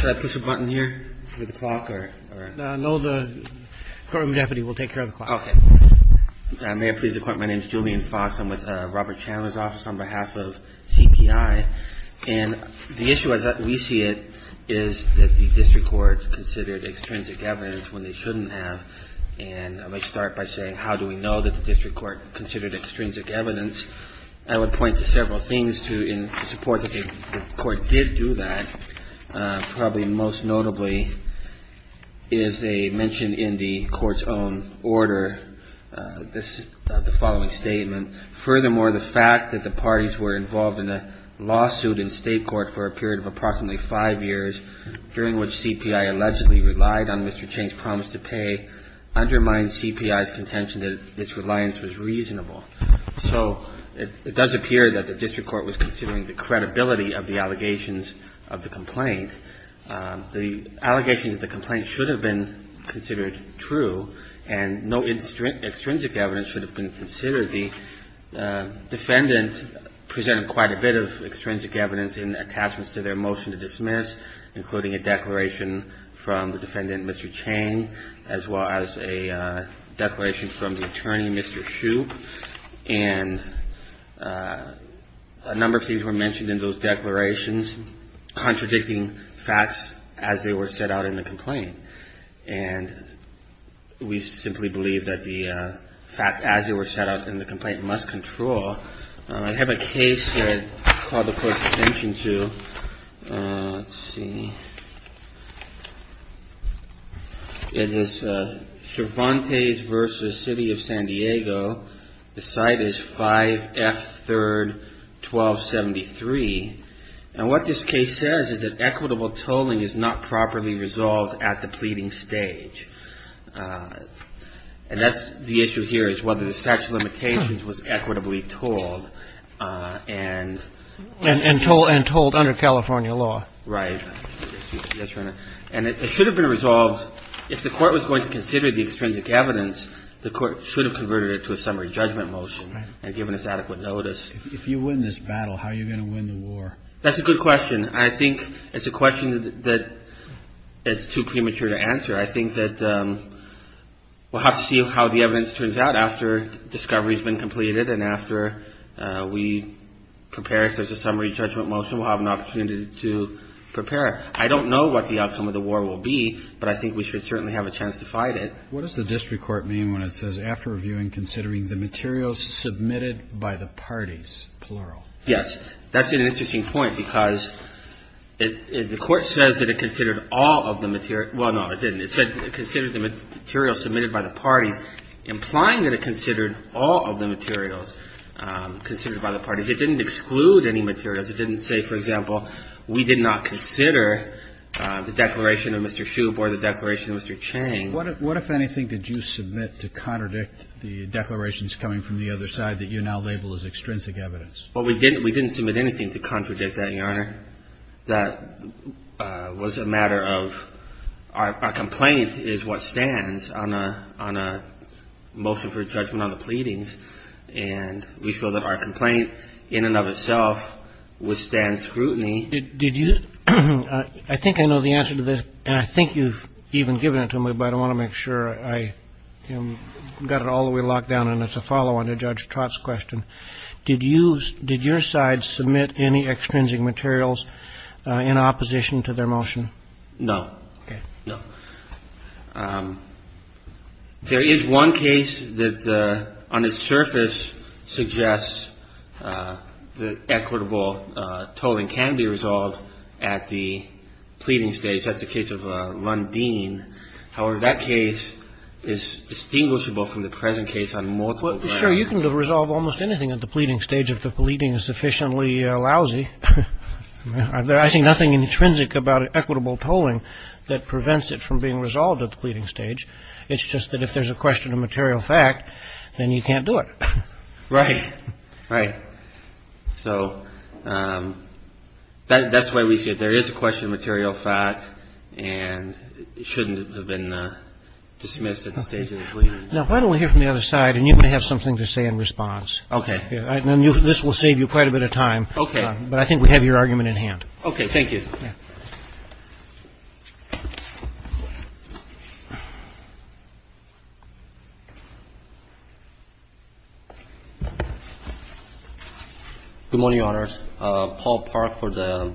Should I push a button here for the clock or? No, the courtroom deputy will take care of the clock. Okay. May I please report my name is Julian Fox. I'm with Robert Chandler's office on behalf of CPI. And the issue as we see it is that the district court considered extrinsic evidence when they shouldn't have. And I might start by saying how do we know that the district court considered extrinsic evidence? I would point to several things in support that the court did do that. Probably most notably is a mention in the court's own order of the following statement. Furthermore, the fact that the parties were involved in a lawsuit in state court for a period of approximately five years, during which CPI allegedly relied on Mr. Chang's promise to pay, undermines CPI's contention that its reliance was reasonable. So it does appear that the district court was considering the credibility of the allegations of the complaint. The allegations of the complaint should have been considered true and no extrinsic evidence should have been considered. The defendant presented quite a bit of extrinsic evidence in attachments to their motion to dismiss, including a declaration from the defendant, Mr. Chang, as well as a declaration from the attorney, Mr. Hsu. And a number of things were mentioned in those declarations contradicting facts as they were set out in the complaint. And we simply believe that the facts as they were set out in the complaint must control. I have a case that I called the court's attention to. Let's see. It is Cervantes v. City of San Diego. The site is 5F 3rd, 1273. And what this case says is that equitable tolling is not properly resolved at the pleading stage. And that's the issue here is whether the statute of limitations was equitably tolled and... And tolled under California law. Right. And it should have been resolved. If the court was going to consider the extrinsic evidence, the court should have converted it to a summary judgment motion and given us adequate notice. If you win this battle, how are you going to win the war? That's a good question. I think it's a question that is too premature to answer. I think that we'll have to see how the evidence turns out after discovery has been completed and after we prepare if there's a summary judgment motion. We'll have an opportunity to prepare. I don't know what the outcome of the war will be, but I think we should certainly have a chance to fight it. What does the district court mean when it says, after reviewing, considering the materials submitted by the parties, plural? Yes. That's an interesting point because the court says that it considered all of the material. Well, no, it didn't. It said it considered the material submitted by the parties, implying that it considered all of the materials considered by the parties. It didn't exclude any materials. It didn't say, for example, we did not consider the declaration of Mr. Shoup or the declaration of Mr. Chang. What, if anything, did you submit to contradict the declarations coming from the other side that you now label as extrinsic evidence? Well, we didn't submit anything to contradict that, Your Honor. I think, Your Honor, that was a matter of our complaint is what stands on a motion for judgment on the pleadings. And we feel that our complaint in and of itself would stand scrutiny. Did you? I think I know the answer to this. And I think you've even given it to me, but I want to make sure I got it all the way locked down. And it's a follow-on to Judge Trott's question. Did your side submit any extrinsic materials in opposition to their motion? No. Okay. No. There is one case that on its surface suggests that equitable tolling can be resolved at the pleading stage. That's the case of Lundin. However, that case is distinguishable from the present case on multiple grounds. Well, sure, you can resolve almost anything at the pleading stage if the pleading is sufficiently lousy. I see nothing intrinsic about equitable tolling that prevents it from being resolved at the pleading stage. It's just that if there's a question of material fact, then you can't do it. Right. Right. So that's why we say there is a question of material fact and it shouldn't have been dismissed at the stage of the pleading. Now, why don't we hear from the other side and you may have something to say in response. Okay. This will save you quite a bit of time. Okay. But I think we have your argument in hand. Okay. Thank you. Good morning, Your Honors. Paul Park for the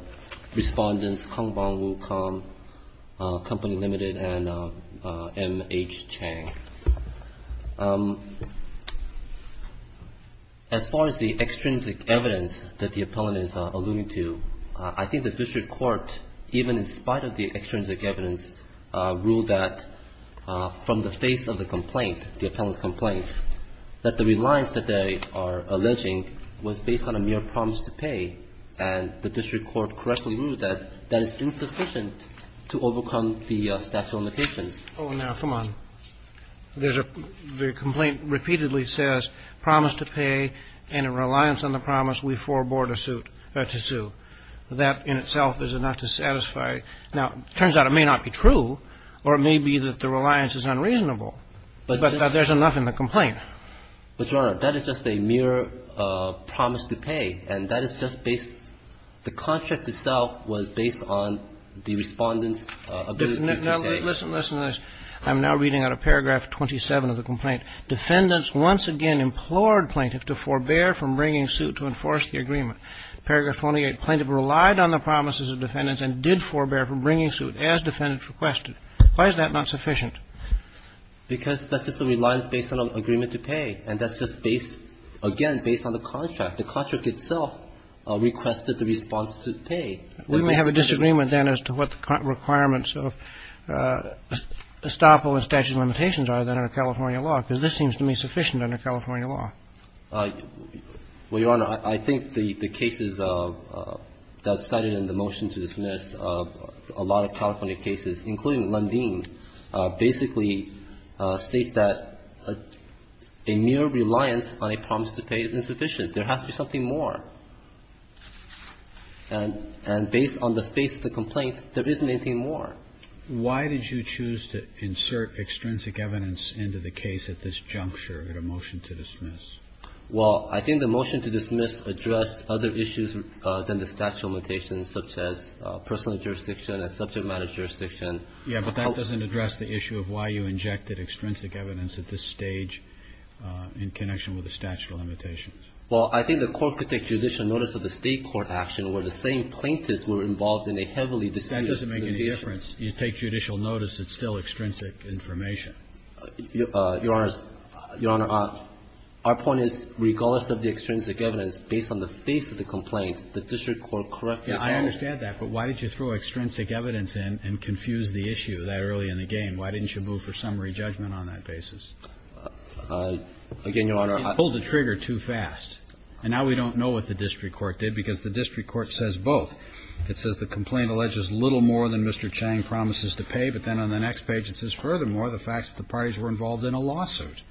Respondents, Hongbang Wu Kong, Company Limited, and M.H. Chang. As far as the extrinsic evidence that the appellant is alluding to, I think the district court, even in spite of the extrinsic evidence, ruled that from the face of the complaint, the appellant's complaint, that the reliance that they are alleging was based on a mere promise to pay, and the district court correctly ruled that that is insufficient to overcome the statute of limitations. Oh, now, come on. The complaint repeatedly says promise to pay and a reliance on the promise we forebore to sue. That in itself is enough to satisfy. Now, it turns out it may not be true or it may be that the reliance is unreasonable, but there's enough in the complaint. But, Your Honor, that is just a mere promise to pay, and that is just based the contract itself was based on the Respondent's ability to pay. Now, listen, listen to this. I'm now reading out of paragraph 27 of the complaint. Defendants once again implored plaintiffs to forbear from bringing suit to enforce the agreement. Paragraph 28, plaintiff relied on the promises of defendants and did forbear from bringing suit, as defendants requested. Why is that not sufficient? Because that's just a reliance based on an agreement to pay, and that's just based on the contract. The contract itself requested the response to pay. We may have a disagreement, then, as to what the requirements of estoppel and statute of limitations are then under California law, because this seems to me sufficient under California law. Well, Your Honor, I think the cases that are cited in the motion to dismiss, a lot of California cases, including Lundin, basically states that a mere reliance on a promise to pay is insufficient. There has to be something more. And based on the face of the complaint, there isn't anything more. Why did you choose to insert extrinsic evidence into the case at this juncture in a motion to dismiss? Well, I think the motion to dismiss addressed other issues than the statute of limitations, such as personal jurisdiction and subject matter jurisdiction. Yes, but that doesn't address the issue of why you injected extrinsic evidence at this stage in connection with the statute of limitations. Well, I think the Court could take judicial notice of the State court action where the same plaintiffs were involved in a heavily disputed litigation. That doesn't make any difference. You take judicial notice. It's still extrinsic information. Your Honor, our point is, regardless of the extrinsic evidence, based on the face of the complaint, the district court corrected that. I understand that. But why did you throw extrinsic evidence in and confuse the issue that early in the Why didn't you move for summary judgment on that basis? Again, Your Honor, I don't know. You pulled the trigger too fast. And now we don't know what the district court did, because the district court says both. It says the complaint alleges little more than Mr. Chang promises to pay. But then on the next page, it says, furthermore, the fact that the parties were involved in a lawsuit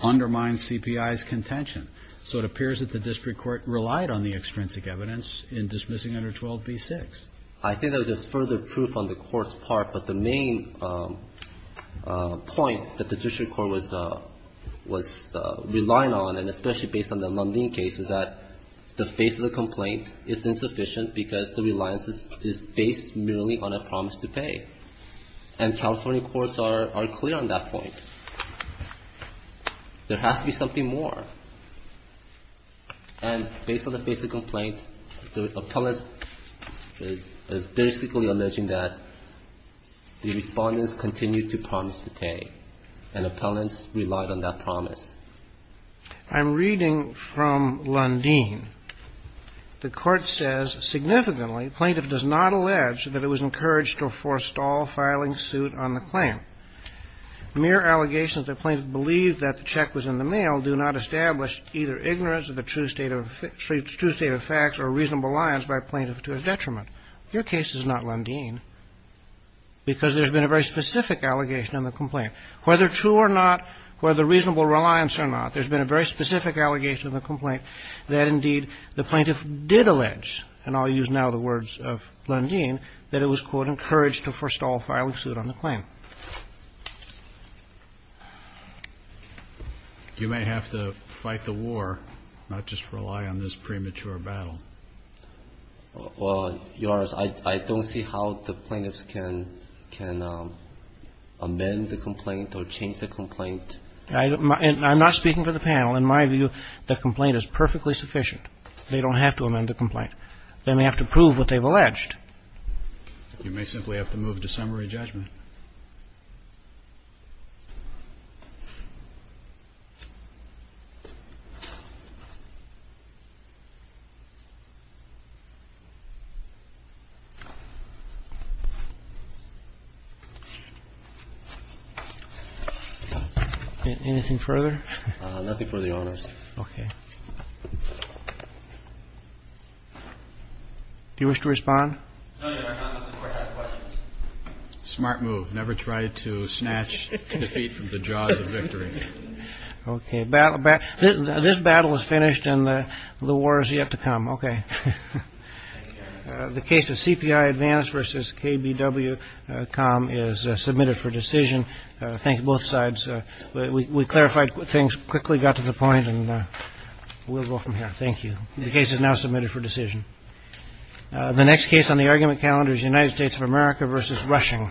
undermines CPI's contention. So it appears that the district court relied on the extrinsic evidence in dismissing under 12b-6. I think that was just further proof on the Court's part. But the main point that the district court was relying on, and especially based on the Lundin case, is that the face of the complaint is insufficient because the reliance is based merely on a promise to pay. And California courts are clear on that point. There has to be something more. And based on the face of the complaint, the appellant is basically alleging that the Respondent continued to promise to pay, and appellants relied on that promise. I'm reading from Lundin. The Court says, significantly, plaintiff does not allege that it was encouraged to forestall filing suit on the claim. Mere allegations that plaintiff believed that the check was in the mail do not establish either ignorance of the true state of facts or reasonable reliance by plaintiff to his detriment. Your case is not Lundin because there's been a very specific allegation in the complaint. Whether true or not, whether reasonable reliance or not, there's been a very specific allegation in the complaint that, indeed, the plaintiff did allege, and I'll use now the words of Lundin, that it was, quote, encouraged to forestall filing suit on the claim. You may have to fight the war, not just rely on this premature battle. Well, Your Honor, I don't see how the plaintiffs can amend the complaint or change the complaint. I'm not speaking for the panel. In my view, the complaint is perfectly sufficient. They don't have to amend the complaint. They may have to prove what they've alleged. You may simply have to move to summary judgment. Anything further? Nothing further, Your Honor. Okay. Do you wish to respond? No, Your Honor. I'm just going to ask questions. Smart move. Never try to snatch defeat from the jaws of victory. Okay. This battle is finished, and the war is yet to come. Okay. The case of CPI Advance v. KBW-Com is submitted for decision. Thank you, both sides. We clarified things quickly, got to the point, and we'll go from here. Thank you. The case is now submitted for decision. The next case on the argument calendar is United States of America v. Rushing.